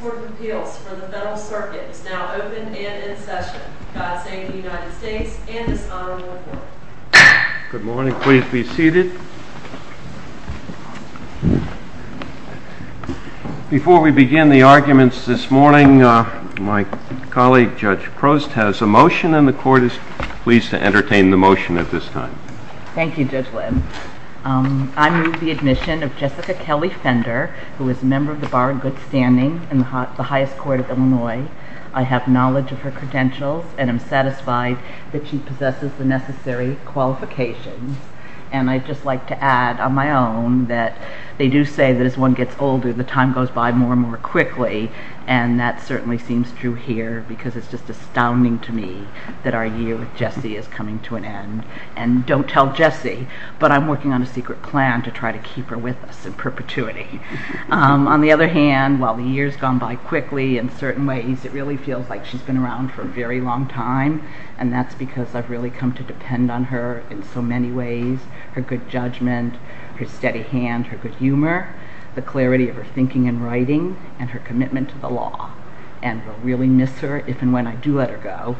Court of Appeals for the Federal Circuit is now open and in session. God save the United States and this honorable Court. Good morning. Please be seated. Before we begin the arguments this morning, my colleague Judge Prost has a motion and the Court is pleased to entertain the motion at this time. Thank you Judge Lynn. I move the admission of Jessica Kelly Fender who is a member of the Bar of Good Standing in the highest court of Illinois. I have knowledge of her credentials and I'm satisfied that she possesses the necessary qualifications and I'd just like to add on my own that they do say that as one gets older the time goes by more and more quickly and that certainly seems true here because it's just astounding to me that our year with Jessie is coming to an end and don't tell Jessie but I'm working on a secret plan to try to keep her with us in perpetuity. On the other hand, while the years gone by quickly in certain ways it really feels like she's been around for a very long time and that's because I've really come to depend on her in so many ways, her good judgment, her steady hand, her good humor, the clarity of her thinking and writing and her commitment to the law and I really miss her if and when I do let her go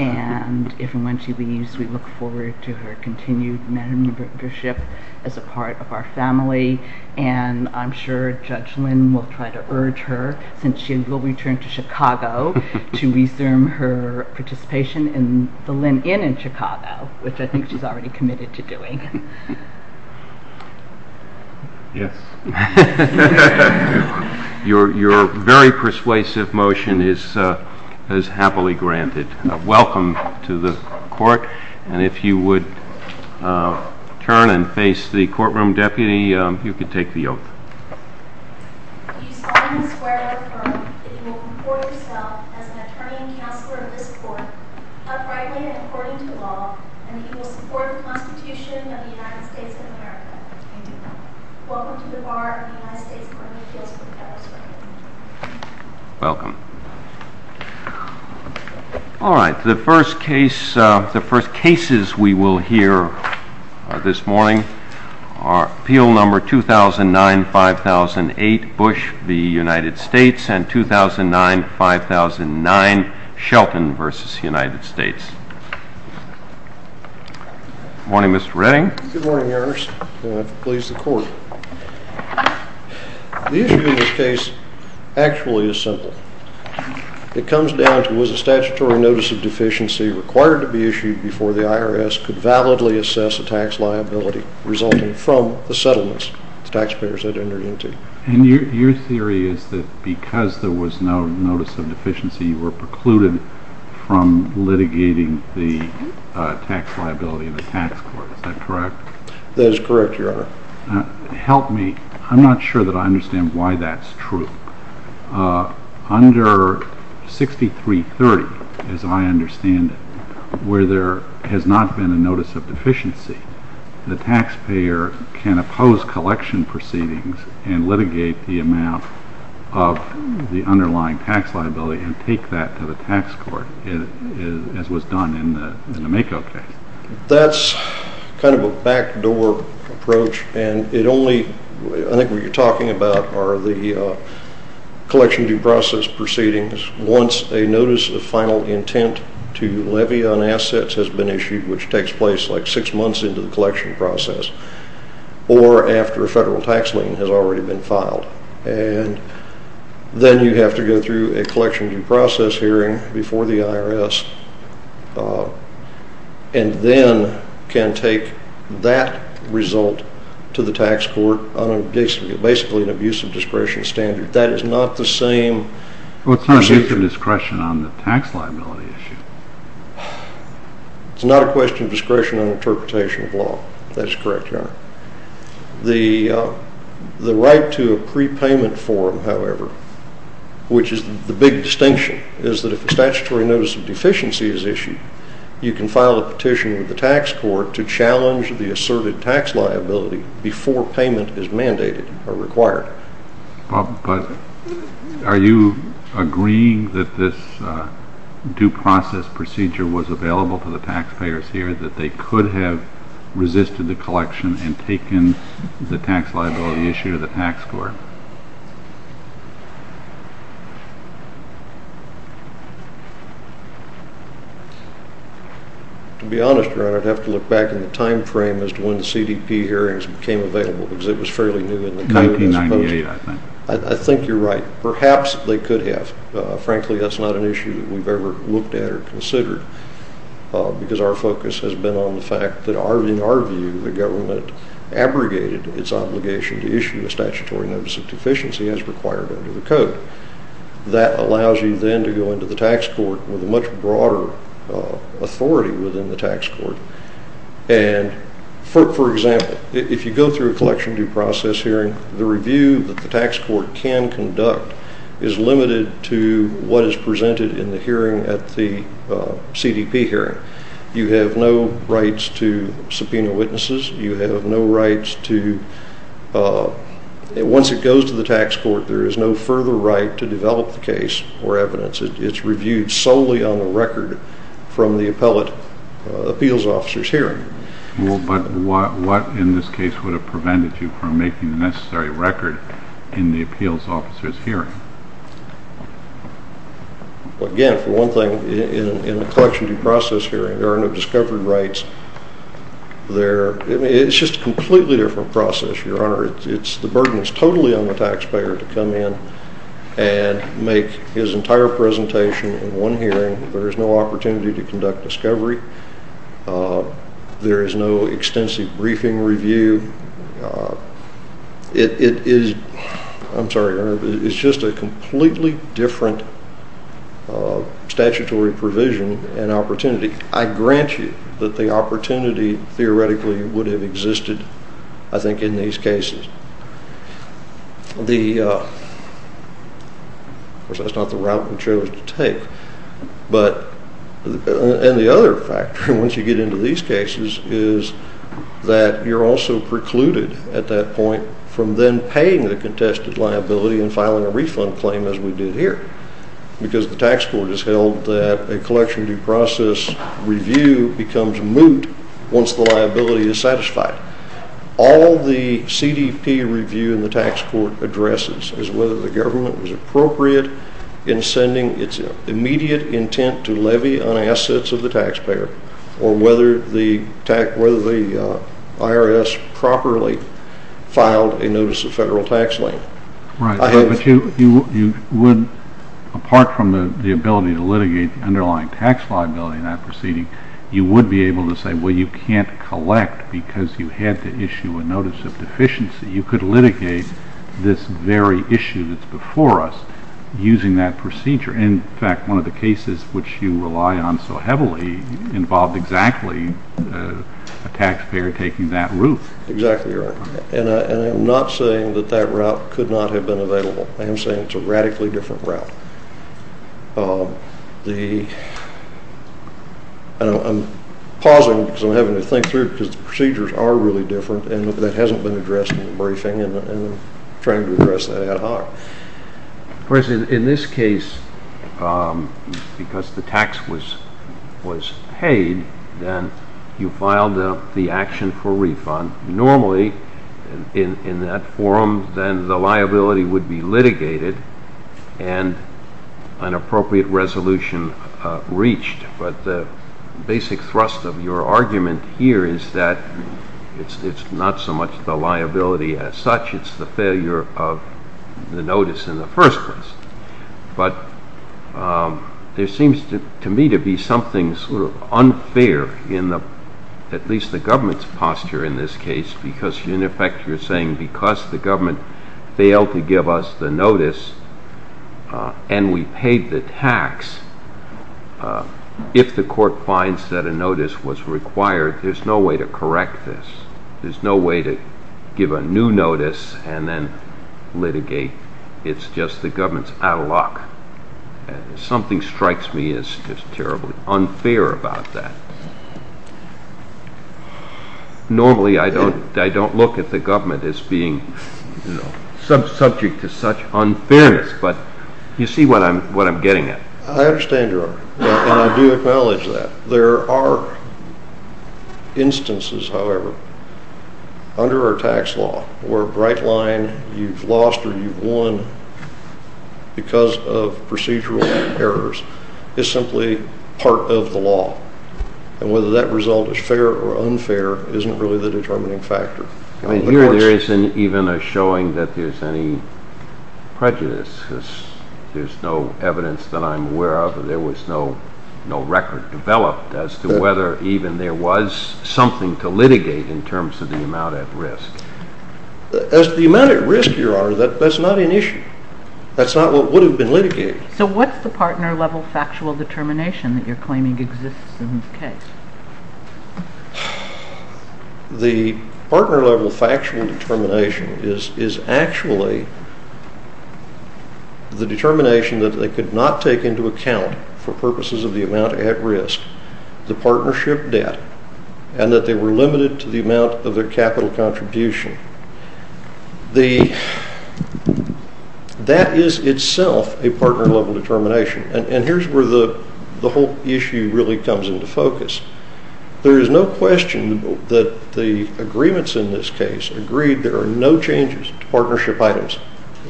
and if and when she leaves we look forward to her continued membership as a part of our family and I'm sure Judge Lynn will try to urge her since she will return to Chicago to resume her participation in the Lynn Inn in Chicago which I think she's already committed to doing. Yes. You're very persuasive motion is happily granted. Welcome to the court and if you would turn and face the courtroom deputy you can take the oath. Do you solemnly swear to the court that you will comport yourself as an attorney and counselor of this court, uprightly and according to law, and that you will support the Constitution of the United States of America? I do. Welcome to the bar of the United States Court of Appeals for the Federalist Court. Welcome. Alright, the first case, the first cases we will hear this morning are Appeal Number 2009-5008, Bush v. United States and 2009-5009, Shelton v. United States. Good morning Mr. Redding. Good morning, Your Honor. May I please the court. The issue in this case actually is simple. It comes down to was a statutory notice of deficiency required to be issued before the IRS could validly assess a tax liability resulting from the settlements the taxpayers had entered into. And your theory is that because there was no notice of deficiency you were precluded from litigating the tax liability in the tax court, is that correct? That is correct, Your Honor. Help me, I'm not sure that I understand why that's true. Under 6330, as I understand it, where there has not been a notice of deficiency, the taxpayer can oppose collection proceedings and litigate the amount of the underlying tax liability and take that to the tax court as was done in the MAKO case. That's kind of a backdoor approach and it only, I think what you're talking about are the collection due process proceedings once a notice of final intent to levy on assets has been issued which takes place like six months into the collection process or after a federal tax lien has already been filed. And then you have to go through a collection due process hearing before the IRS and then can take that result to the tax court on basically an abusive discretion standard. That is not the same... Well, it's not an abuse of discretion on the tax liability issue. It's not a question of discretion on interpretation of law. That is correct, Your Honor. The right to a prepayment form, however, which is the big distinction, is that if a statutory notice of deficiency is issued, you can file a petition with the tax court to challenge the asserted tax liability before payment is mandated or required. But are you agreeing that this due process procedure was available for the taxpayers here that they could have resisted the collection and taken the tax liability issue to the tax court? To be honest, Your Honor, I'd have to look back in the time frame as to when the CDP hearings became available because it was fairly new in the... 1998, I think. I think you're right. Perhaps they could have. Frankly, that's not an issue that we've ever looked at or considered because our focus has been on the fact that, in our view, the government abrogated its obligation to issue a statutory notice of deficiency as required under the Code. That allows you then to go into the tax court with a much broader authority within the tax court. And, for example, if you go through a collection due process hearing, the review that the tax court can conduct is limited to what is presented in the hearing at the CDP hearing. You have no rights to subpoena witnesses. You have no rights to... Once it goes to the tax court, there is no further right to develop the case or evidence. It's reviewed solely on the record from the appellate appeals officer's hearing. But what, in this case, would have prevented you from making the necessary record in the appeals officer's hearing? Well, again, for one thing, in the collection due process hearing, there are no discovery rights. It's just a completely different process, Your Honor. The burden is totally on the taxpayer to come in and make his entire presentation in one hearing. There is no opportunity to There is no extensive briefing review. It is... I'm sorry, Your Honor. It's just a completely different statutory provision and opportunity. I grant you that the opportunity theoretically would have existed, I think, in these cases. Of course, that's not the route we chose to take. But... And the other factor, once you get into these cases, is that you're also precluded at that point from then paying the contested liability and filing a refund claim as we did here because the tax court has held that a collection due process review becomes moot once the liability is satisfied. All the CDP review in the tax court addresses is whether the government was appropriate in sending its immediate intent to levy on assets of the taxpayer or whether the IRS properly filed a notice of federal tax lien. Right. But you would, apart from the ability to litigate the underlying tax liability in that proceeding, you would be able to say, well, you can't collect because you had to before us using that procedure. In fact, one of the cases which you rely on so heavily involved exactly a taxpayer taking that route. Exactly, Your Honor. And I'm not saying that that route could not have been available. I am saying it's a radically different route. I'm pausing because I'm having to think through it because the procedures are really different and that hasn't been addressed in the briefing and I'm trying to address that ad hoc. President, in this case, because the tax was paid, then you filed the action for refund. Normally, in that forum, then the liability would be litigated and an appropriate resolution reached. But the basic thrust of your argument here is that it's not so much the liability as such, it's the failure of the notice in the first place. But there seems to me to be something sort of unfair in at least the government's posture in this case because in effect you're saying because the government failed to give us the notice and we paid the tax, if the court finds that a notice was required, there's no way to correct this. There's no way to give a new notice and then litigate. It's just the government's out of luck. Something strikes me as just terribly unfair about that. Normally, I don't look at the government as being subject to such unfairness, but you see what I'm getting at. I understand your argument and I do acknowledge that. There are instances, however, under our tax law where a bright line, you've lost or you've won because of procedural errors, is simply part of the law. And whether that result is fair or unfair isn't really the determining factor. Here there isn't even a showing that there's any prejudice. There's no evidence that I'm aware of and there was no record developed as to whether even there was something to litigate in terms of the amount at risk. As the amount at risk, Your Honor, that's not an issue. That's not what would have been litigated. So what's the partner level factual determination that you're claiming exists in this case? The partner level factual determination is actually the determination that they could not take into account for purposes of the amount at risk, the partnership debt, and that they were limited to the amount of their capital contribution. That is itself a partner level determination. And here's where the whole issue really comes into focus. There is no question that the agreements in this case agreed there are no changes to partnership items,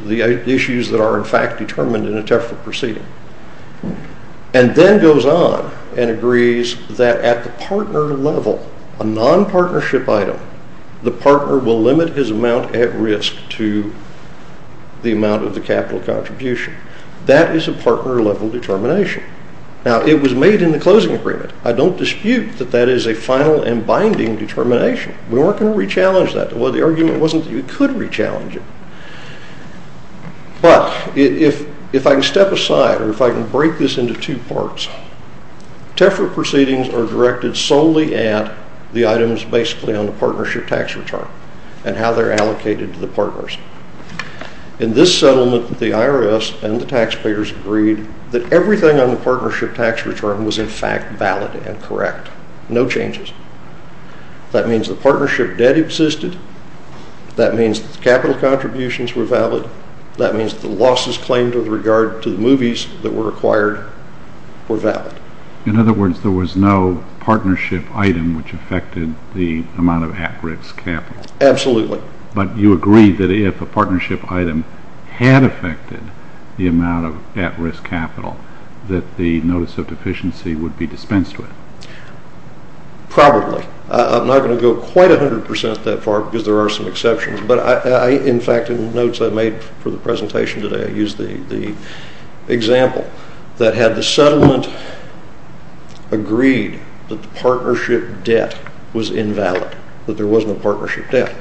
the issues that are in fact determined in a TEFRA proceeding, and then goes on and agrees that at the partner level, a non-partnership item, the partner will limit his amount at risk to the amount of the capital contribution. That is a partner level determination. Now, it was made in the closing agreement. I don't dispute that that is a final and binding determination. We weren't going to re-challenge that. The argument wasn't that you could re-challenge it. But if I can step aside or if I can break this into two parts, TEFRA proceedings are directed solely at the items basically on the partnership tax return and how they're allocated to the partners. In this settlement, the IRS and the taxpayers agreed that everything on the partnership tax return was in fact valid and correct. No changes. That means the partnership debt existed. That means the capital contributions were valid. That means the losses claimed with regard to the movies that were acquired were valid. In other words, there was no partnership item which affected the amount of at risk capital. Absolutely. But you agreed that if a partnership item had affected the amount of at risk capital that the notice of deficiency would be dispensed with. Probably. I'm not going to go quite 100% that far because there are some exceptions. But in fact, in the notes I made for the presentation today, I used the example that had the settlement agreed that the partnership debt was invalid, that there wasn't a partnership debt.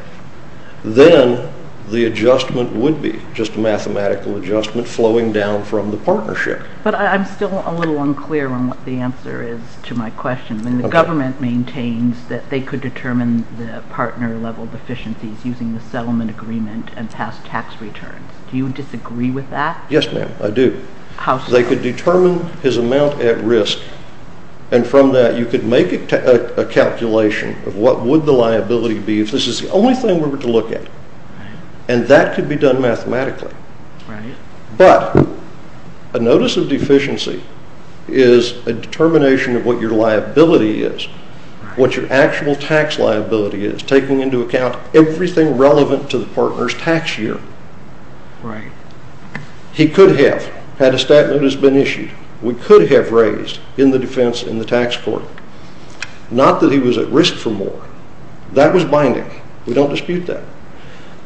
Then the adjustment would be just a mathematical adjustment flowing down from the partnership. But I'm still a little unclear on what the answer is to my question. The government maintains that they could determine the partner level deficiencies using the settlement agreement and past tax returns. Do you disagree with that? How so? They could determine his amount at risk and from that you could make a calculation of what would the liability be if this is the only thing we were to look at. And that could be done mathematically. Right. But a notice of deficiency is a determination of what your liability is, what your actual tax liability is, taking into account everything relevant to the partner's tax year. Right. He could have, had a stat notice been issued, we could have raised in the defense in the tax court, not that he was at risk for more. That was binding. We don't dispute that.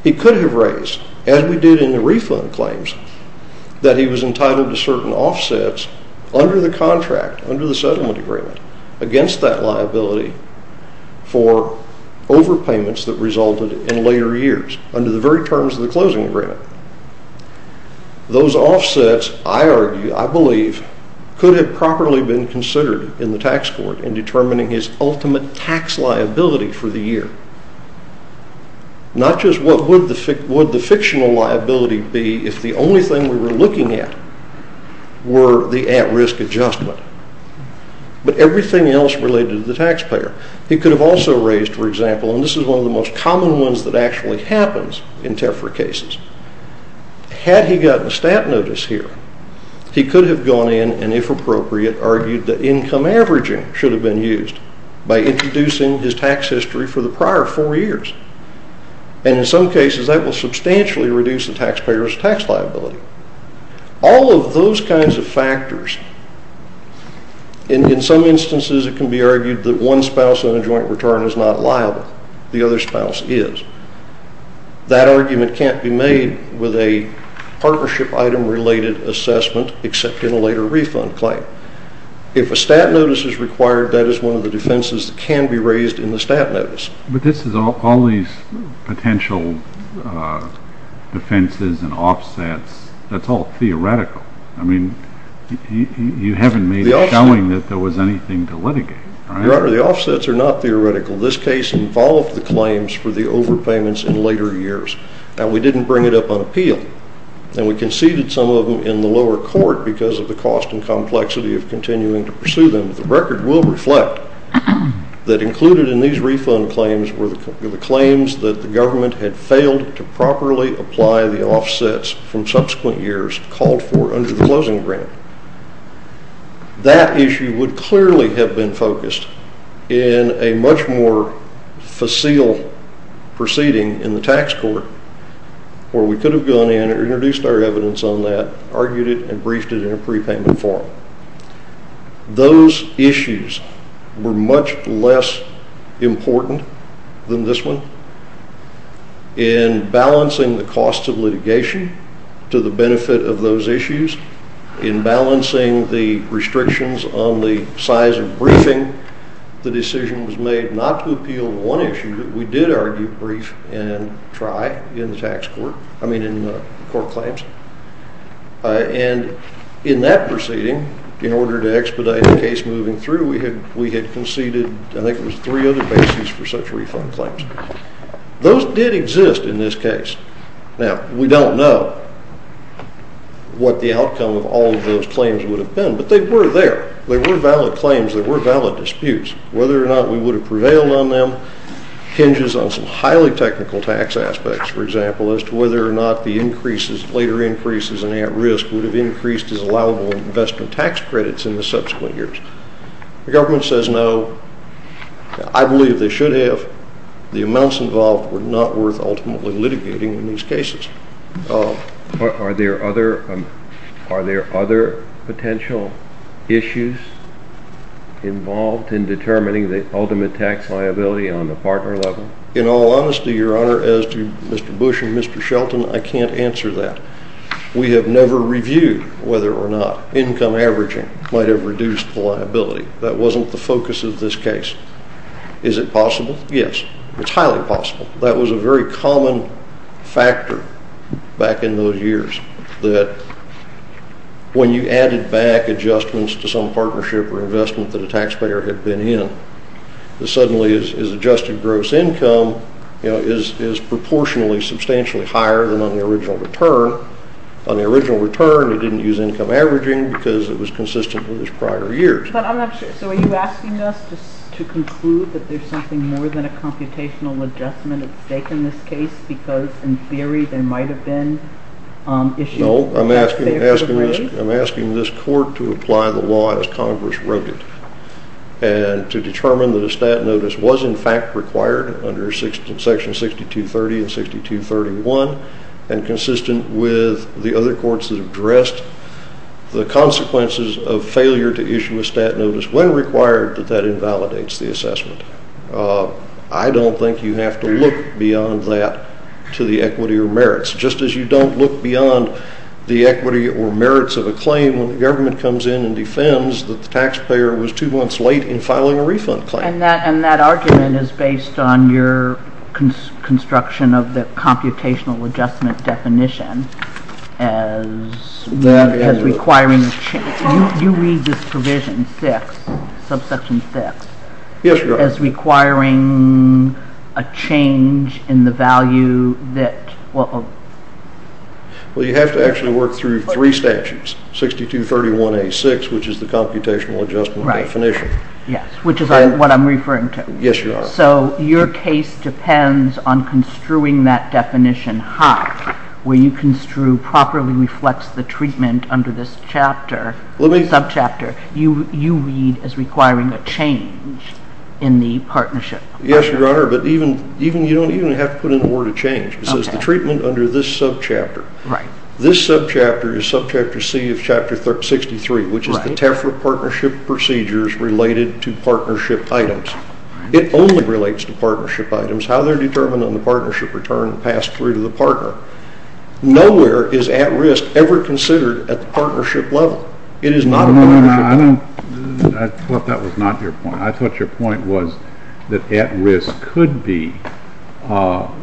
He could have raised, as we did in the refund claims, that he was entitled to certain offsets under the contract, under the settlement agreement, against that liability for overpayments that resulted in later years, under the very terms of the closing agreement. Those offsets, I argue, I believe, could have properly been considered in the tax court in determining his ultimate tax liability for the year. Not just what would the fictional liability be if the only thing we were looking at were the at risk adjustment, but everything else related to the taxpayer. He could have also raised, for example, and this is one of the most common ones that actually happens in TEFRA cases. Had he gotten a stat notice here, he could have gone in and, if appropriate, argued that income averaging should have been used by introducing his tax history for the prior four years. And in some cases that will substantially reduce the taxpayer's tax liability. All of those kinds of factors, in some instances it can be argued that one spouse on a joint return is not liable. The other spouse is. That argument can't be made with a partnership item related assessment, except in a later refund claim. If a stat notice is required, that is one of the defenses that can be raised in the stat notice. But this is all these potential defenses and offsets. That's all theoretical. Your Honor, the offsets are not theoretical. This case involved the claims for the overpayments in later years, and we didn't bring it up on appeal. And we conceded some of them in the lower court because of the cost and complexity of continuing to pursue them. The record will reflect that included in these refund claims were the claims that the government had failed to properly apply the offsets from subsequent years called for under the closing grant. That issue would clearly have been focused in a much more facile proceeding in the tax court where we could have gone in and introduced our evidence on that, argued it, and briefed it in a prepayment form. Those issues were much less important than this one in balancing the cost of litigation to the benefit of those issues, in balancing the restrictions on the size of briefing. The decision was made not to appeal one issue, but we did argue, brief, and try in the tax court, I mean in the court claims. And in that proceeding, in order to expedite the case moving through, we had conceded, I think it was three other bases for such refund claims. Those did exist in this case. Now, we don't know what the outcome of all of those claims would have been, but they were there. They were valid claims. They were valid disputes. Whether or not we would have prevailed on them hinges on some highly technical tax aspects, for example, as to whether or not the later increases in at-risk would have increased as allowable investment tax credits in the subsequent years. The government says no. I believe they should have. But the amounts involved were not worth ultimately litigating in these cases. Are there other potential issues involved in determining the ultimate tax liability on the partner level? In all honesty, Your Honor, as to Mr. Bush and Mr. Shelton, I can't answer that. We have never reviewed whether or not income averaging might have reduced liability. That wasn't the focus of this case. Is it possible? Yes. It's highly possible. That was a very common factor back in those years, that when you added back adjustments to some partnership or investment that a taxpayer had been in, suddenly his adjusted gross income is proportionally substantially higher than on the original return. On the original return, he didn't use income averaging because it was consistent with his prior years. But I'm not sure. So are you asking us to conclude that there's something more than a computational adjustment at stake in this case because in theory there might have been issues? No. I'm asking this court to apply the law as Congress wrote it and to determine that a stat notice was in fact required under Section 6230 and 6231 and consistent with the other courts that addressed the consequences of failure to issue a stat notice when required that that invalidates the assessment. I don't think you have to look beyond that to the equity or merits. Just as you don't look beyond the equity or merits of a claim when the government comes in and defends that the taxpayer was two months late in filing a refund claim. And that argument is based on your construction of the computational adjustment definition as requiring a change. You read this provision 6, subsection 6. Yes, Your Honor. As requiring a change in the value that will... Well, you have to actually work through three statutes, 6231A6, which is the computational adjustment definition. Yes, which is what I'm referring to. Yes, Your Honor. So your case depends on construing that definition high where you construe properly reflects the treatment under this chapter, subchapter you read as requiring a change in the partnership. Yes, Your Honor. But you don't even have to put in a word of change. It says the treatment under this subchapter. Right. This subchapter is subchapter C of Chapter 63, which is the TEFRA partnership procedures related to partnership items. It only relates to partnership items, how they're determined on the partnership return passed through to the partner. Nowhere is at risk ever considered at the partnership level. It is not a partnership. I thought that was not your point. I thought your point was that at risk could involve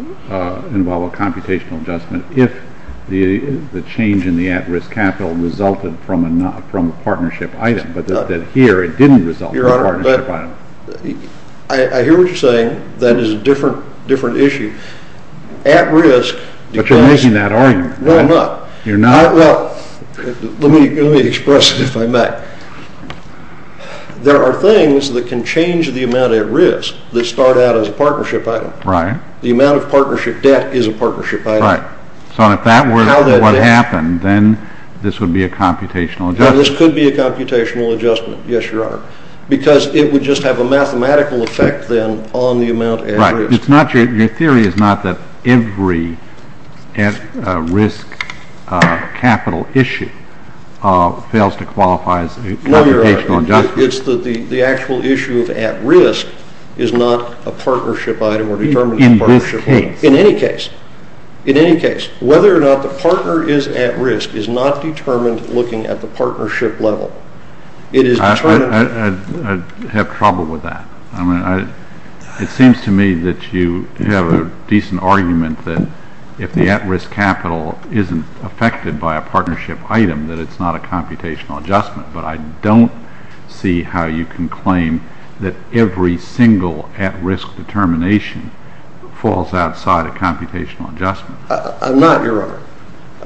a computational adjustment if the change in the at risk capital resulted from a partnership item, but that here it didn't result from a partnership item. I hear what you're saying. That is a different issue. At risk. But you're making that argument. No, I'm not. You're not? Well, let me express it if I may. There are things that can change the amount at risk that start out as a partnership item. Right. The amount of partnership debt is a partnership item. Right. So if that were what happened, then this would be a computational adjustment. This could be a computational adjustment. Yes, Your Honor. Because it would just have a mathematical effect then on the amount at risk. Right. Your theory is not that every at risk capital issue fails to qualify as a computational adjustment. No, Your Honor. It's that the actual issue of at risk is not a partnership item or determined at partnership level. In this case. In any case. In any case. Whether or not the partner is at risk is not determined looking at the partnership level. I have trouble with that. It seems to me that you have a decent argument that if the at risk capital isn't affected by a partnership item, that it's not a computational adjustment. But I don't see how you can claim that every single at risk determination falls outside a computational adjustment. I'm not, Your Honor.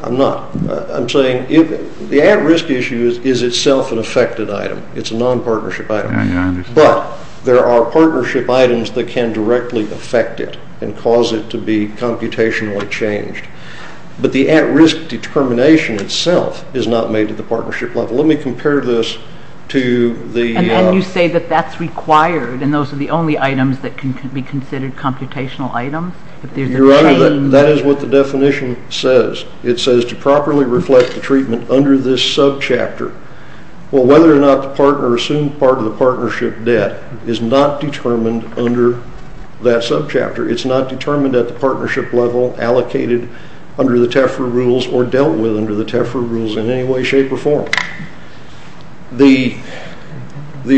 I'm not. The at risk issue is itself an affected item. It's a non-partnership item. I understand. But there are partnership items that can directly affect it and cause it to be computationally changed. But the at risk determination itself is not made at the partnership level. Let me compare this to the... And then you say that that's required and those are the only items that can be considered computational items. Your Honor, that is what the definition says. It says to properly reflect the treatment under this subchapter. Well, whether or not the partner assumed part of the partnership debt is not determined under that subchapter. It's not determined at the partnership level, allocated under the TEFRA rules, or dealt with under the TEFRA rules in any way, shape, or form. The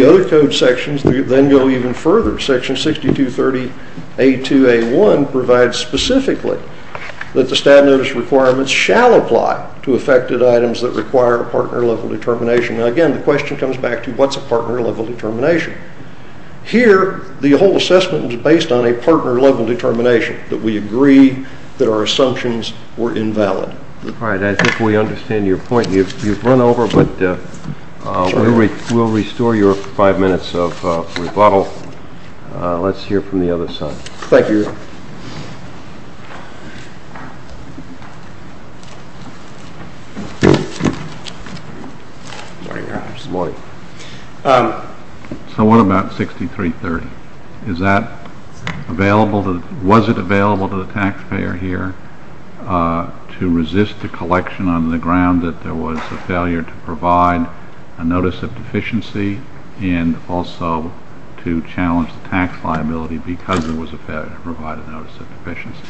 other code sections then go even further. Section 6230A2A1 provides specifically that the stat notice requirements shall apply to affected items that require a partner level determination. Now, again, the question comes back to what's a partner level determination. Here, the whole assessment is based on a partner level determination that we agree that our assumptions were invalid. All right. I think we understand your point. You've run over, but we'll restore your five minutes of rebuttal. Let's hear from the other side. Thank you, Your Honor. So what about 6330? Was it available to the taxpayer here to resist the collection on the ground that there was a failure to provide a notice of deficiency and also to challenge the tax liability because there was a failure to provide a notice of deficiency?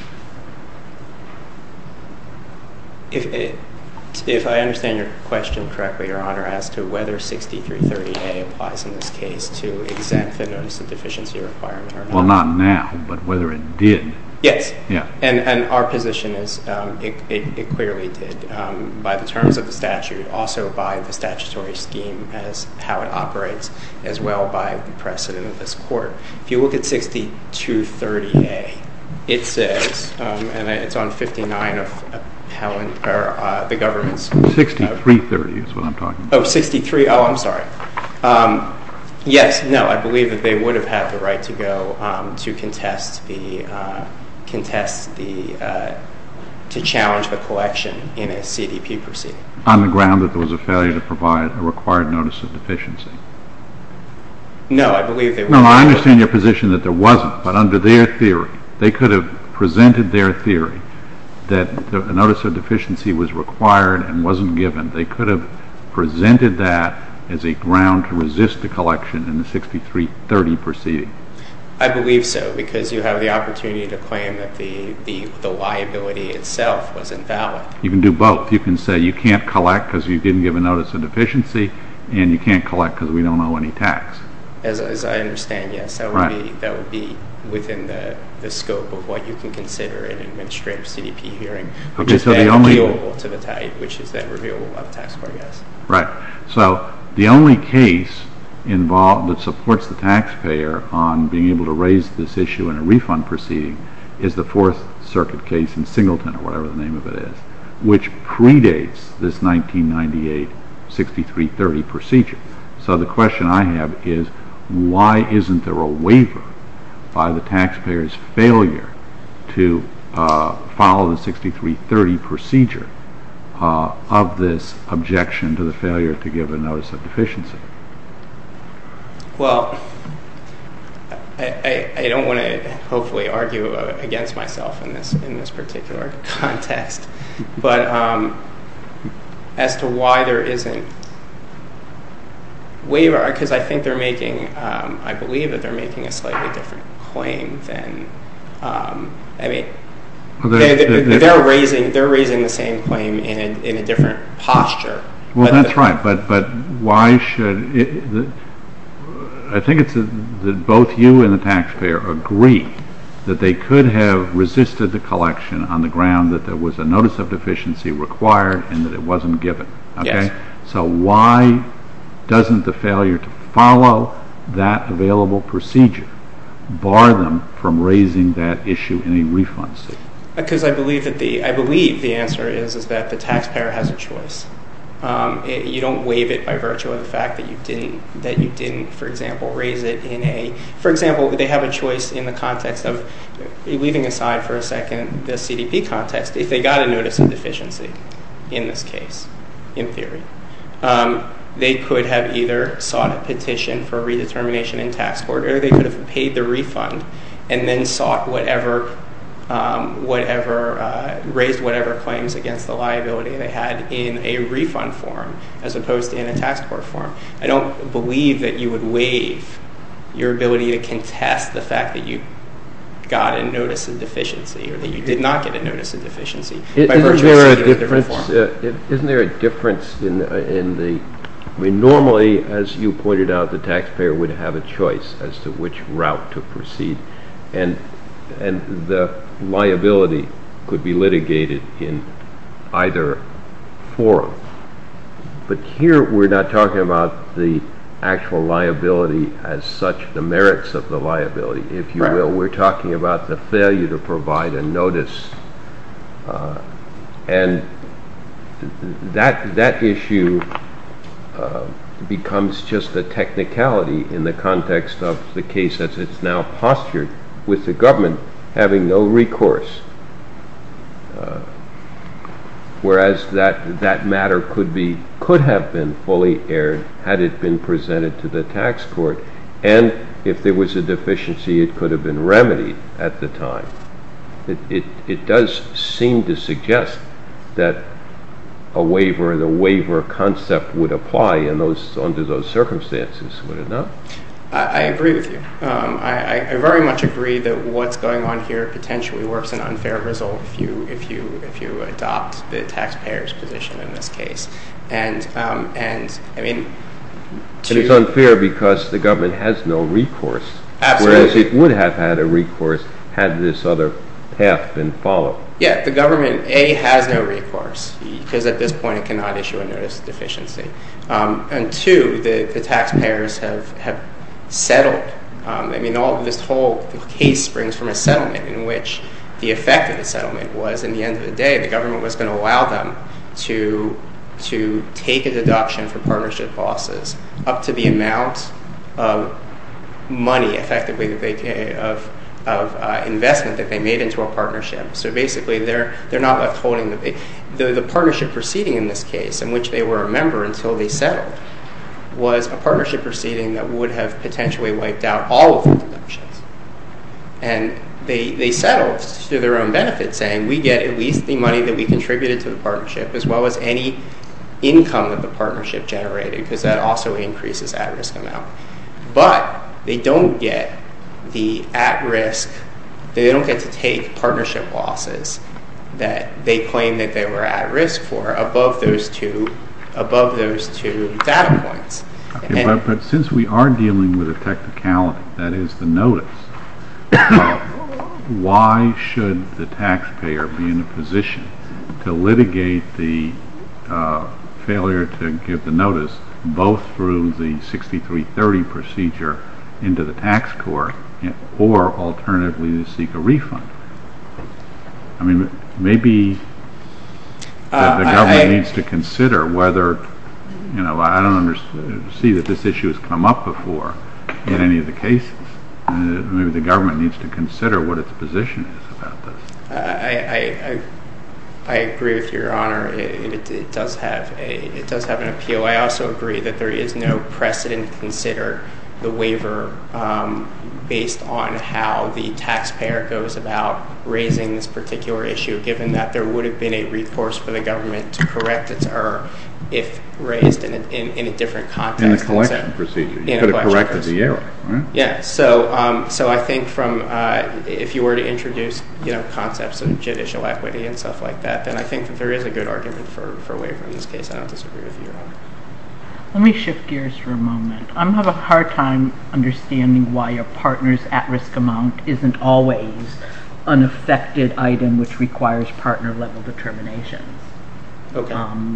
If I understand your question correctly, Your Honor, as to whether 6330A applies in this case to exempt the notice of deficiency requirement or not. Well, not now, but whether it did. Yes. Yeah. And our position is it clearly did by the terms of the statute, also by the statutory scheme as how it operates, as well by the precedent of this court. If you look at 6230A, it says, and it's on 59 of the government's. 6330 is what I'm talking about. Oh, 63. Oh, I'm sorry. Yes. No, I believe that they would have had the right to go to contest the, to challenge the collection in a CDP proceeding. On the ground that there was a failure to provide a required notice of deficiency. No, I believe they would have. No, I understand your position that there wasn't. But under their theory, they could have presented their theory that a notice of deficiency was required and wasn't given. They could have presented that as a ground to resist the collection in the 6330 proceeding. I believe so because you have the opportunity to claim that the liability itself was invalid. You can do both. You can say you can't collect because you didn't give a notice of deficiency and you can't collect because we don't owe any tax. As I understand, yes. Right. That would be within the scope of what you can consider in an administrative CDP hearing. Okay, so the only… Which is then revealable to the tithe, which is then revealable by the taxpayer, yes. Right. So the only case involved that supports the taxpayer on being able to raise this issue in a refund proceeding is the Fourth Circuit case in Singleton, or whatever the name of it is, which predates this 1998 6330 procedure. So the question I have is why isn't there a waiver by the taxpayer's failure to follow the 6330 procedure of this objection to the failure to give a notice of deficiency? Well, I don't want to hopefully argue against myself in this particular context. But as to why there isn't waiver, because I think they're making… I believe that they're making a slightly different claim than… I mean, they're raising the same claim in a different posture. Well, that's right. But why should… I think it's that both you and the taxpayer agree that they could have resisted the collection on the ground that there was a notice of deficiency required and that it wasn't given. Yes. So why doesn't the failure to follow that available procedure bar them from raising that issue in a refund suit? Because I believe the answer is that the taxpayer has a choice. You don't waive it by virtue of the fact that you didn't, for example, raise it in a… For example, they have a choice in the context of, leaving aside for a second the CDP context, if they got a notice of deficiency in this case, in theory. They could have either sought a petition for a redetermination in tax court or they could have paid the refund and then sought whatever… raised whatever claims against the liability they had in a refund form as opposed to in a tax court form. I don't believe that you would waive your ability to contest the fact that you got a notice of deficiency or that you did not get a notice of deficiency by virtue of a different form. Isn't there a difference in the… Normally, as you pointed out, the taxpayer would have a choice as to which route to proceed and the liability could be litigated in either form. But here we're not talking about the actual liability as such, the merits of the liability, if you will. We're talking about the failure to provide a notice and that issue becomes just a technicality in the context of the case as it's now postured with the government having no recourse. Whereas that matter could have been fully aired had it been presented to the tax court and if there was a deficiency, it could have been remedied at the time. It does seem to suggest that a waiver and a waiver concept would apply under those circumstances, would it not? I agree with you. I very much agree that what's going on here potentially works an unfair result if you adopt the taxpayer's position in this case. And it's unfair because the government has no recourse. Absolutely. Whereas it would have had a recourse had this other path been followed. Yeah, the government, A, has no recourse because at this point it cannot issue a notice of deficiency. And two, the taxpayers have settled. I mean, all of this whole case springs from a settlement in which the effect of the settlement was in the end of the day the government was going to allow them to take a deduction for partnership losses up to the amount of money effectively of investment that they made into a partnership. So basically, they're not withholding. The partnership proceeding in this case in which they were a member until they settled was a partnership proceeding that would have potentially wiped out all of the deductions. And they settled to their own benefit saying we get at least the money that we contributed to the partnership as well as any income that the partnership generated because that also increases at-risk amount. But they don't get the at-risk, they don't get to take partnership losses that they claim that they were at-risk for above those two data points. But since we are dealing with a technicality, that is the notice, why should the taxpayer be in a position to litigate the failure to give the notice both through the 6330 procedure into the tax court or alternatively to seek a refund? I mean, maybe the government needs to consider whether, you know, I don't see that this issue has come up before in any of the cases. Maybe the government needs to consider what its position is about this. I agree with Your Honor. It does have an appeal. I also agree that there is no precedent to consider the waiver based on how the taxpayer goes about raising this particular issue given that there would have been a recourse for the government to correct its error if raised in a different context. In the collection procedure, you could have corrected the error, right? Yeah, so I think if you were to introduce concepts of judicial equity and stuff like that, then I think there is a good argument for a waiver in this case. I don't disagree with Your Honor. Let me shift gears for a moment. I'm going to have a hard time understanding why a partner's at-risk amount isn't always an affected item which requires partner-level determinations,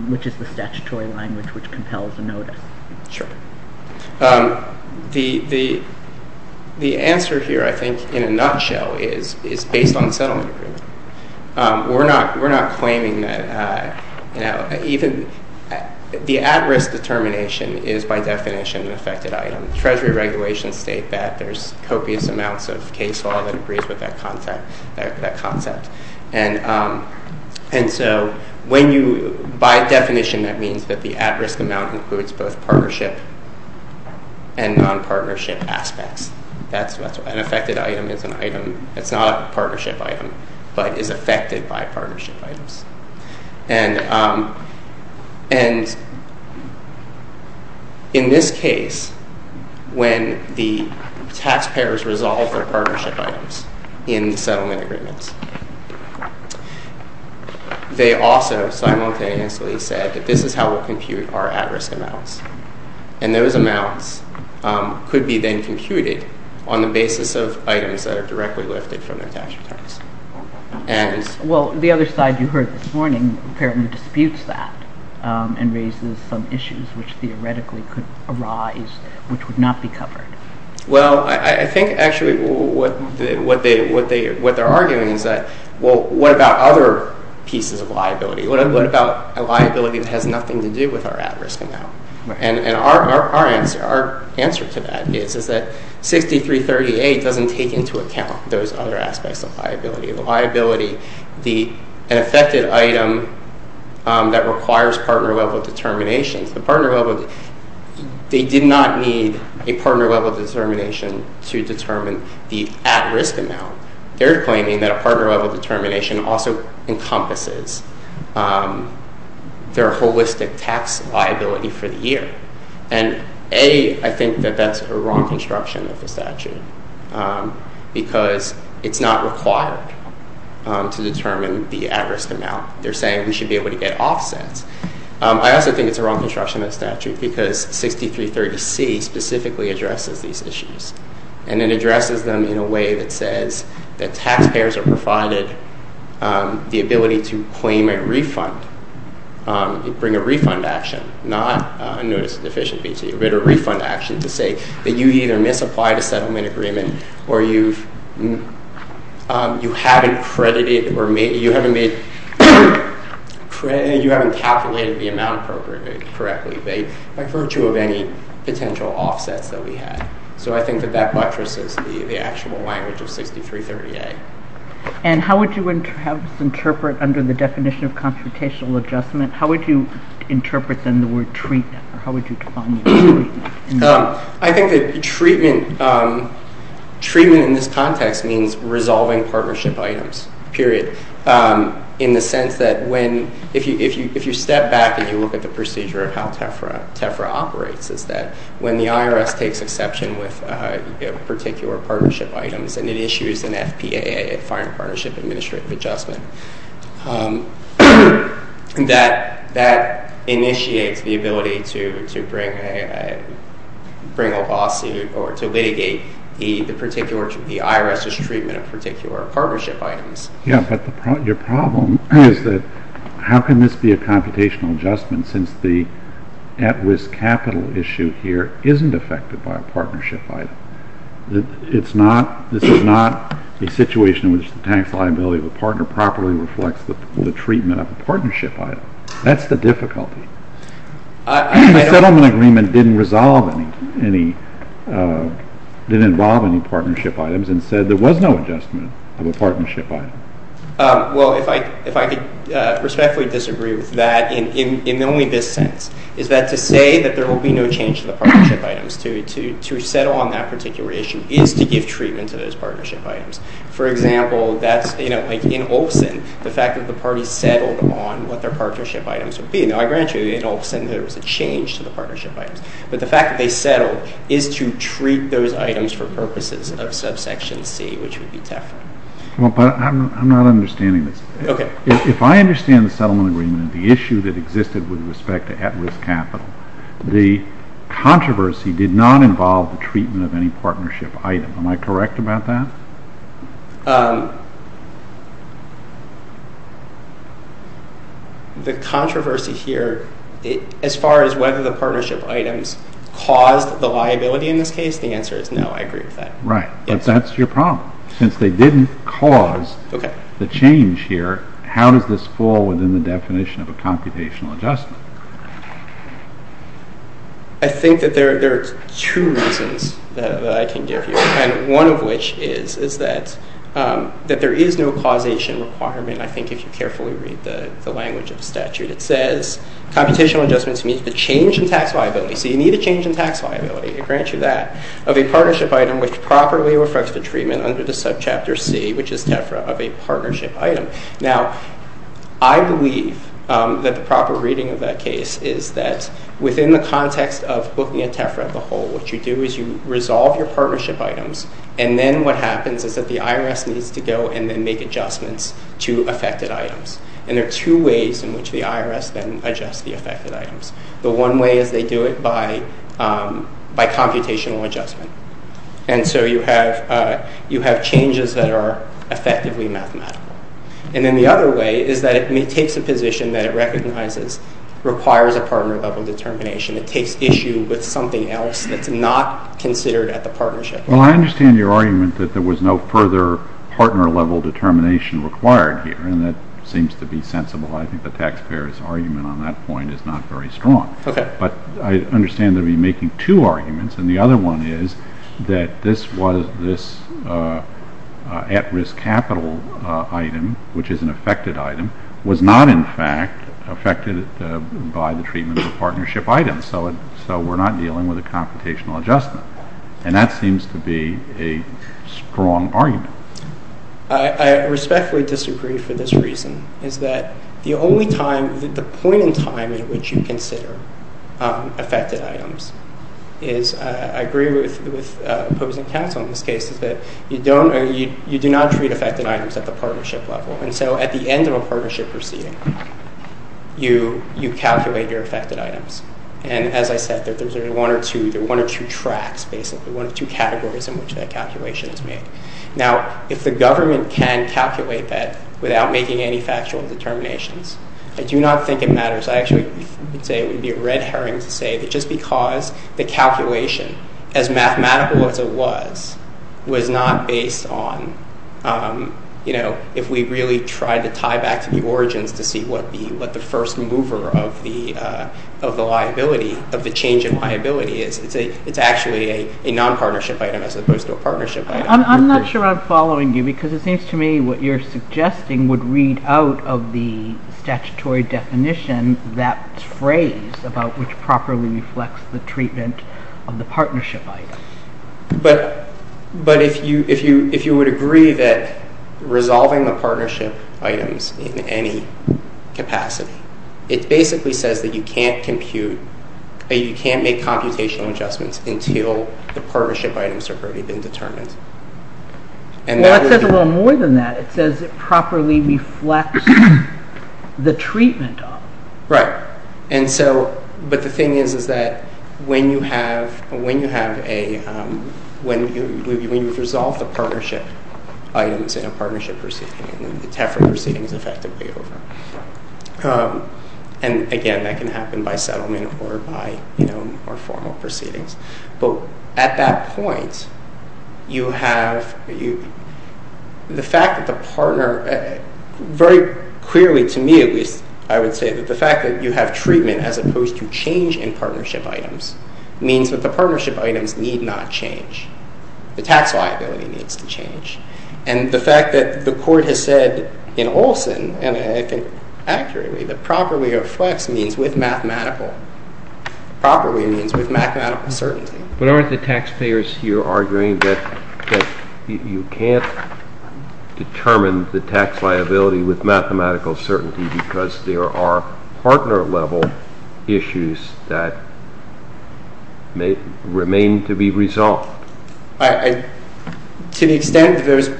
which is the statutory language which compels a notice. Sure. The answer here, I think, in a nutshell is based on settlement agreement. We're not claiming that, you know, even the at-risk determination is by definition an affected item. Treasury regulations state that there's copious amounts of case law that agrees with that concept. And so by definition, that means that the at-risk amount includes both partnership and non-partnership aspects. An affected item is an item that's not a partnership item but is affected by partnership items. And in this case, when the taxpayers resolve their partnership items in the settlement agreements, they also simultaneously said that this is how we'll compute our at-risk amounts. And those amounts could be then computed on the basis of items that are directly lifted from their tax returns. Well, the other side you heard this morning apparently disputes that and raises some issues which theoretically could arise which would not be covered. Well, I think actually what they're arguing is that, well, what about other pieces of liability? What about a liability that has nothing to do with our at-risk amount? And our answer to that is that 6338 doesn't take into account those other aspects of liability. The liability, an affected item that requires partner-level determinations, they did not need a partner-level determination to determine the at-risk amount. They're claiming that a partner-level determination also encompasses their holistic tax liability for the year. And A, I think that that's a wrong construction of the statute because it's not required to determine the at-risk amount. They're saying we should be able to get offsets. I also think it's a wrong construction of the statute because 6330C specifically addresses these issues. And it addresses them in a way that says that taxpayers are provided the ability to claim a refund, bring a refund action, not a notice of deficient VT, but a refund action to say that you either misapplied a settlement agreement or you haven't capitalized the amount appropriately, correctly, by virtue of any potential offsets that we had. So I think that that buttresses the actual language of 6330A. And how would you have us interpret under the definition of confrontational adjustment? How would you interpret, then, the word treatment? Or how would you define the word treatment? I think that treatment in this context means resolving partnership items, period, in the sense that if you step back and you look at the procedure of how TEFRA operates, is that when the IRS takes exception with particular partnership items and it issues an FPAA, a Fire and Partnership Administrative Adjustment, that initiates the ability to bring a lawsuit or to litigate the IRS's treatment of particular partnership items. Yeah, but your problem is that how can this be a computational adjustment since the at-risk capital issue here isn't affected by a partnership item? This is not a situation in which the tax liability of a partner properly reflects the treatment of a partnership item. That's the difficulty. The settlement agreement didn't involve any partnership items and said there was no adjustment of a partnership item. Well, if I could respectfully disagree with that in only this sense, is that to say that there will be no change to the partnership items, to settle on that particular issue, is to give treatment to those partnership items. For example, like in Olson, the fact that the parties settled on what their partnership items would be. Now, I grant you in Olson there was a change to the partnership items, but the fact that they settled is to treat those items for purposes of subsection C, which would be TEFRA. Well, but I'm not understanding this. Okay. If I understand the settlement agreement and the issue that existed with respect to at-risk capital, the controversy did not involve the treatment of any partnership item. Am I correct about that? The controversy here, as far as whether the partnership items caused the liability in this case, the answer is no. I agree with that. Right, but that's your problem. Since they didn't cause the change here, how does this fall within the definition of a computational adjustment? I think that there are two reasons that I can give you, and one of which is that there is no causation requirement, I think, if you carefully read the language of the statute. It says computational adjustments meet the change in tax liability. So you need a change in tax liability. I grant you that. Of a partnership item which properly reflects the treatment under the subchapter C, which is TEFRA, of a partnership item. Now, I believe that the proper reading of that case is that within the context of looking at TEFRA as a whole, what you do is you resolve your partnership items, and then what happens is that the IRS needs to go and then make adjustments to affected items. And there are two ways in which the IRS then adjusts the affected items. The one way is they do it by computational adjustment. And so you have changes that are effectively mathematical. And then the other way is that it takes a position that it recognizes requires a partner-level determination. It takes issue with something else that's not considered at the partnership. Well, I understand your argument that there was no further partner-level determination required here, and that seems to be sensible. I think the taxpayer's argument on that point is not very strong. Okay. But I understand that we're making two arguments, and the other one is that this was this at-risk capital item, which is an affected item, was not, in fact, affected by the treatment of a partnership item, so we're not dealing with a computational adjustment. And that seems to be a strong argument. I respectfully disagree for this reason, is that the point in time in which you consider affected items is, I agree with opposing counsel in this case, is that you do not treat affected items at the partnership level. And so at the end of a partnership proceeding, you calculate your affected items. And as I said, there are one or two tracks, basically, one or two categories in which that calculation is made. Now, if the government can calculate that without making any factual determinations, I do not think it matters. I actually would say it would be a red herring to say that just because the calculation, as mathematical as it was, was not based on, you know, if we really tried to tie back to the origins to see what the first mover of the liability, of the change in liability is, it's actually a non-partnership item as opposed to a partnership item. I'm not sure I'm following you because it seems to me what you're suggesting would read out of the statutory definition that phrase about which properly reflects the treatment of the partnership item. But if you would agree that resolving the partnership items in any capacity, it basically says that you can't compute, you can't make computational adjustments until the partnership items have already been determined. Well, it says a little more than that. It says it properly reflects the treatment of. Right. And so, but the thing is, is that when you have a, when you've resolved the partnership items in a partnership proceeding, then the TAFRA proceeding is effectively over. And again, that can happen by settlement or by, you know, more formal proceedings. But at that point, you have the fact that the partner, very clearly to me, at least I would say that the fact that you have treatment as opposed to change in partnership items means that the partnership items need not change. The tax liability needs to change. And the fact that the court has said in Olson, and I think accurately, that properly reflects means with mathematical, properly means with mathematical certainty. But aren't the taxpayers here arguing that you can't determine the tax liability with mathematical certainty because there are partner level issues that may remain to be resolved? To the extent that there's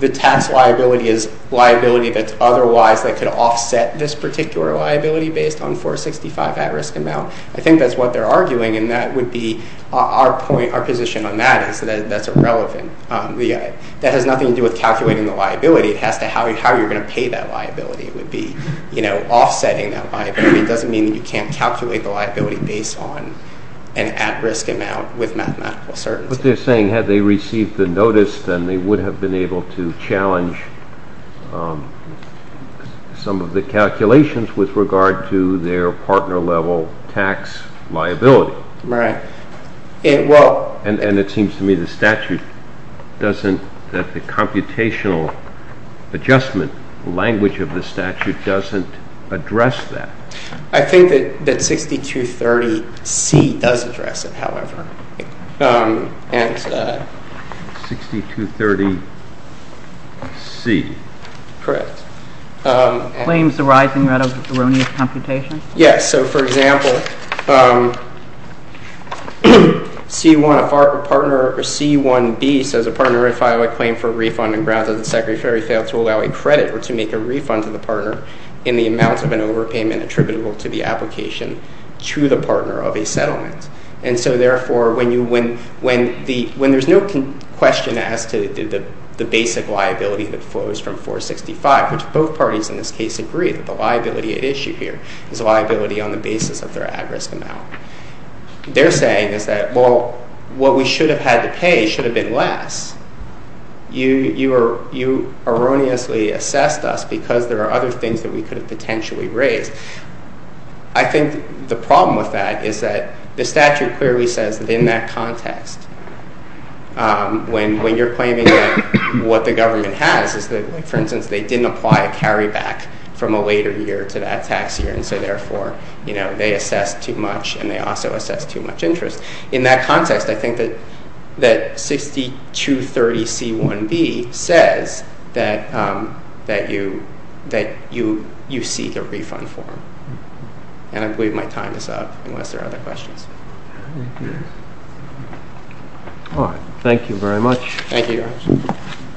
the tax liability is liability that's otherwise that could offset this particular liability based on 465 at risk amount. I think that's what they're arguing. And that would be our point. Our position on that is that that's irrelevant. That has nothing to do with calculating the liability. It has to how you how you're going to pay that liability would be, you know, offsetting that liability. It doesn't mean that you can't calculate the liability based on an at risk amount with mathematical certainty. But they're saying had they received the notice, then they would have been able to challenge some of the calculations with regard to their partner level tax liability. Right. And it seems to me the statute doesn't that the computational adjustment language of the statute doesn't address that. I think that 6230C does address it, however. 6230C. Correct. Claims arising out of erroneous computation. Yes. So, for example, C1B says a partner if I were to claim for a refund on grounds that the secretary failed to allow a credit or to make a refund to the partner in the amount of an overpayment attributable to the application to the partner of a settlement. And so, therefore, when there's no question as to the basic liability that flows from 465, which both parties in this case agree that the liability at issue here is a liability on the basis of their at risk amount. They're saying is that, well, what we should have had to pay should have been less. You erroneously assessed us because there are other things that we could have potentially raised. I think the problem with that is that the statute clearly says that in that context, when you're claiming what the government has is that, for instance, they didn't apply a carry back from a later year to that tax year. And so, therefore, you know, they assess too much and they also assess too much interest in that context. I think that 6230C1B says that you seek a refund form. And I believe my time is up unless there are other questions. All right. Thank you very much. Thank you, Your Honor.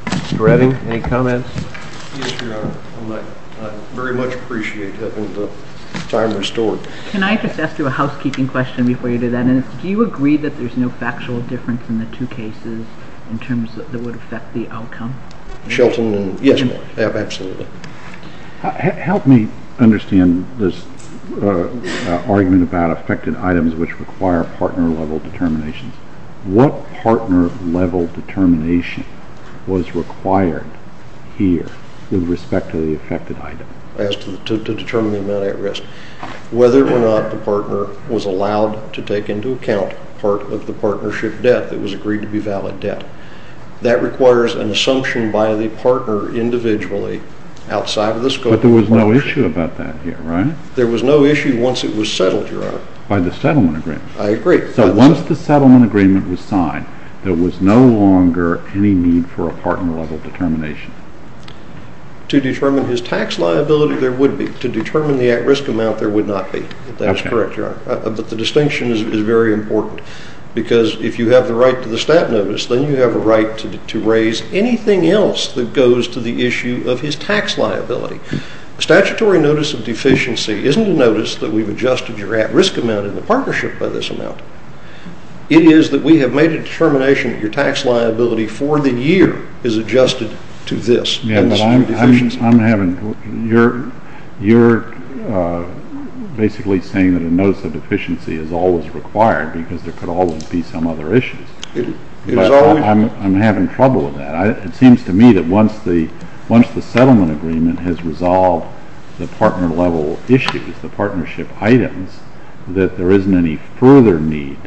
Mr. Redding, any comments? Yes, Your Honor. I very much appreciate having the time restored. Can I just ask you a housekeeping question before you do that? And do you agree that there's no factual difference in the two cases in terms that would affect the outcome? Shelton and yes, absolutely. Help me understand this argument about affected items which require partner level determinations. What partner level determination was required here with respect to the affected item? I asked to determine the amount at risk. Whether or not the partner was allowed to take into account part of the partnership debt that was agreed to be valid debt. That requires an assumption by the partner individually outside of the scope of the partnership. But there was no issue about that here, right? There was no issue once it was settled, Your Honor. By the settlement agreement. I agree. So once the settlement agreement was signed, there was no longer any need for a partner level determination. To determine his tax liability, there would be. To determine the at risk amount, there would not be. That is correct, Your Honor. But the distinction is very important. Because if you have the right to the stat notice, then you have a right to raise anything else that goes to the issue of his tax liability. Statutory notice of deficiency isn't a notice that we've adjusted your at risk amount in the partnership by this amount. It is that we have made a determination that your tax liability for the year is adjusted to this. You're basically saying that a notice of deficiency is always required because there could always be some other issues. I'm having trouble with that. It seems to me that once the settlement agreement has resolved the partner level issues, the partnership items, that there isn't any further need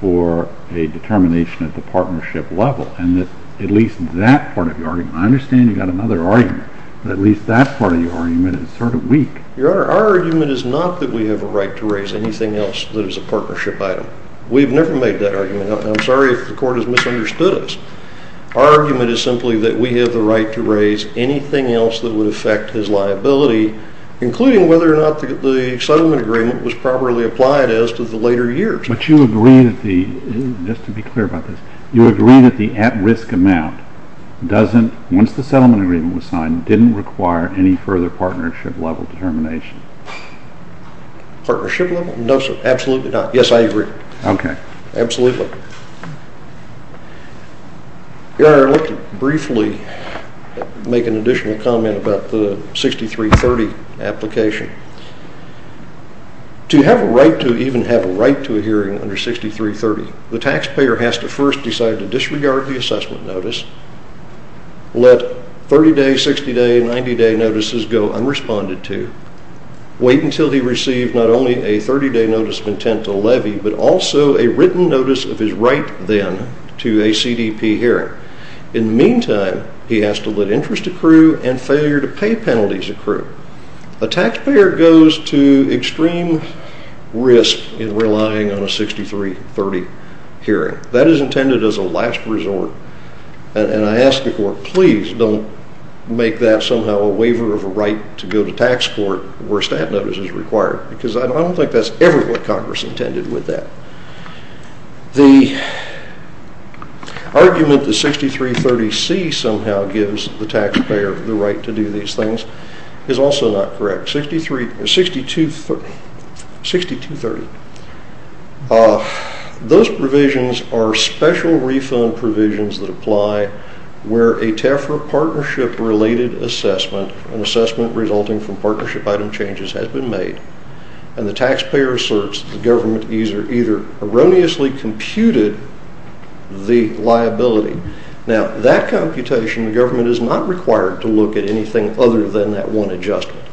for a determination at the partnership level. And that at least that part of your argument. I understand you've got another argument. But at least that part of your argument is sort of weak. Your Honor, our argument is not that we have a right to raise anything else that is a partnership item. We've never made that argument. I'm sorry if the court has misunderstood us. Our argument is simply that we have the right to raise anything else that would affect his liability, including whether or not the settlement agreement was properly applied as to the later years. But you agree that the, just to be clear about this, you agree that the at risk amount doesn't, once the settlement agreement was signed, didn't require any further partnership level determination. Partnership level? No sir, absolutely not. Yes, I agree. Okay. Absolutely. Your Honor, I'd like to briefly make an additional comment about the 6330 application. To have a right to even have a right to a hearing under 6330, the taxpayer has to first decide to disregard the assessment notice, let 30 day, 60 day, 90 day notices go unresponded to, wait until he receives not only a 30 day notice of intent to levy, but also a written notice of his right then to a CDP hearing. In the meantime, he has to let interest accrue and failure to pay penalties accrue. A taxpayer goes to extreme risk in relying on a 6330 hearing. That is intended as a last resort. And I ask the court, please don't make that somehow a waiver of a right to go to tax court where a stat notice is required. Because I don't think that's ever what Congress intended with that. The argument that 6330C somehow gives the taxpayer the right to do these things is also not correct. 6230, those provisions are special refund provisions that apply where a TAFRA partnership related assessment, an assessment resulting from partnership item changes has been made, and the taxpayer asserts that the government either erroneously computed the liability. Now, that computation, the government is not required to look at anything other than that one adjustment.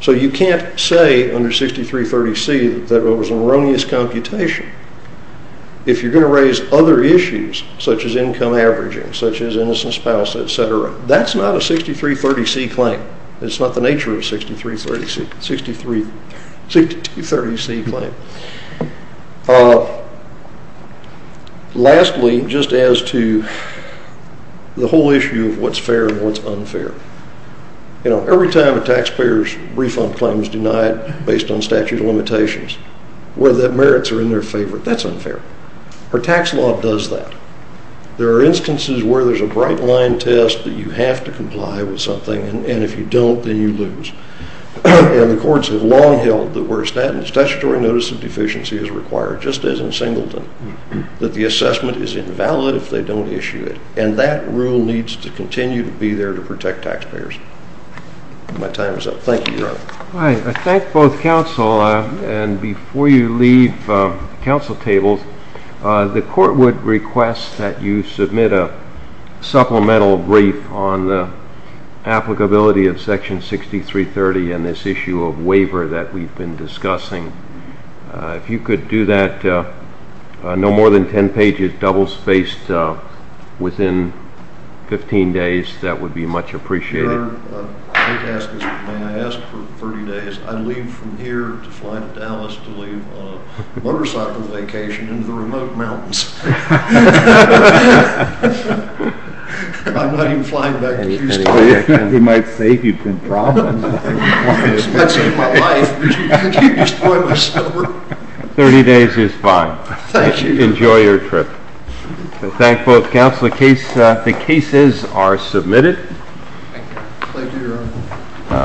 So you can't say under 6330C that it was an erroneous computation. If you're going to raise other issues, such as income averaging, such as innocent spouse, etc., that's not a 6330C claim. It's not the nature of a 6230C claim. Lastly, just as to the whole issue of what's fair and what's unfair. You know, every time a taxpayer's refund claim is denied based on statute of limitations, whether the merits are in their favor, that's unfair. Our tax law does that. There are instances where there's a bright-line test that you have to comply with something, and if you don't, then you lose. And the courts have long held that where statutory notice of deficiency is required, just as in Singleton, that the assessment is invalid if they don't issue it. And that rule needs to continue to be there to protect taxpayers. My time is up. Thank you, Your Honor. All right. I thank both counsel. And before you leave the counsel tables, the court would request that you submit a supplemental brief on the applicability of Section 6330 and this issue of waiver that we've been discussing. If you could do that, no more than 10 pages, double-spaced, within 15 days, that would be much appreciated. Your Honor, may I ask for 30 days? I'd leave from here to fly to Dallas to leave on a motorcycle vacation into the remote mountains. I'm not even flying back to Houston. He might say you've been problems. I'd save my life, but you'd destroy my stomach. 30 days is fine. Thank you. Enjoy your trip. The cases are submitted. Thank you, Your Honor.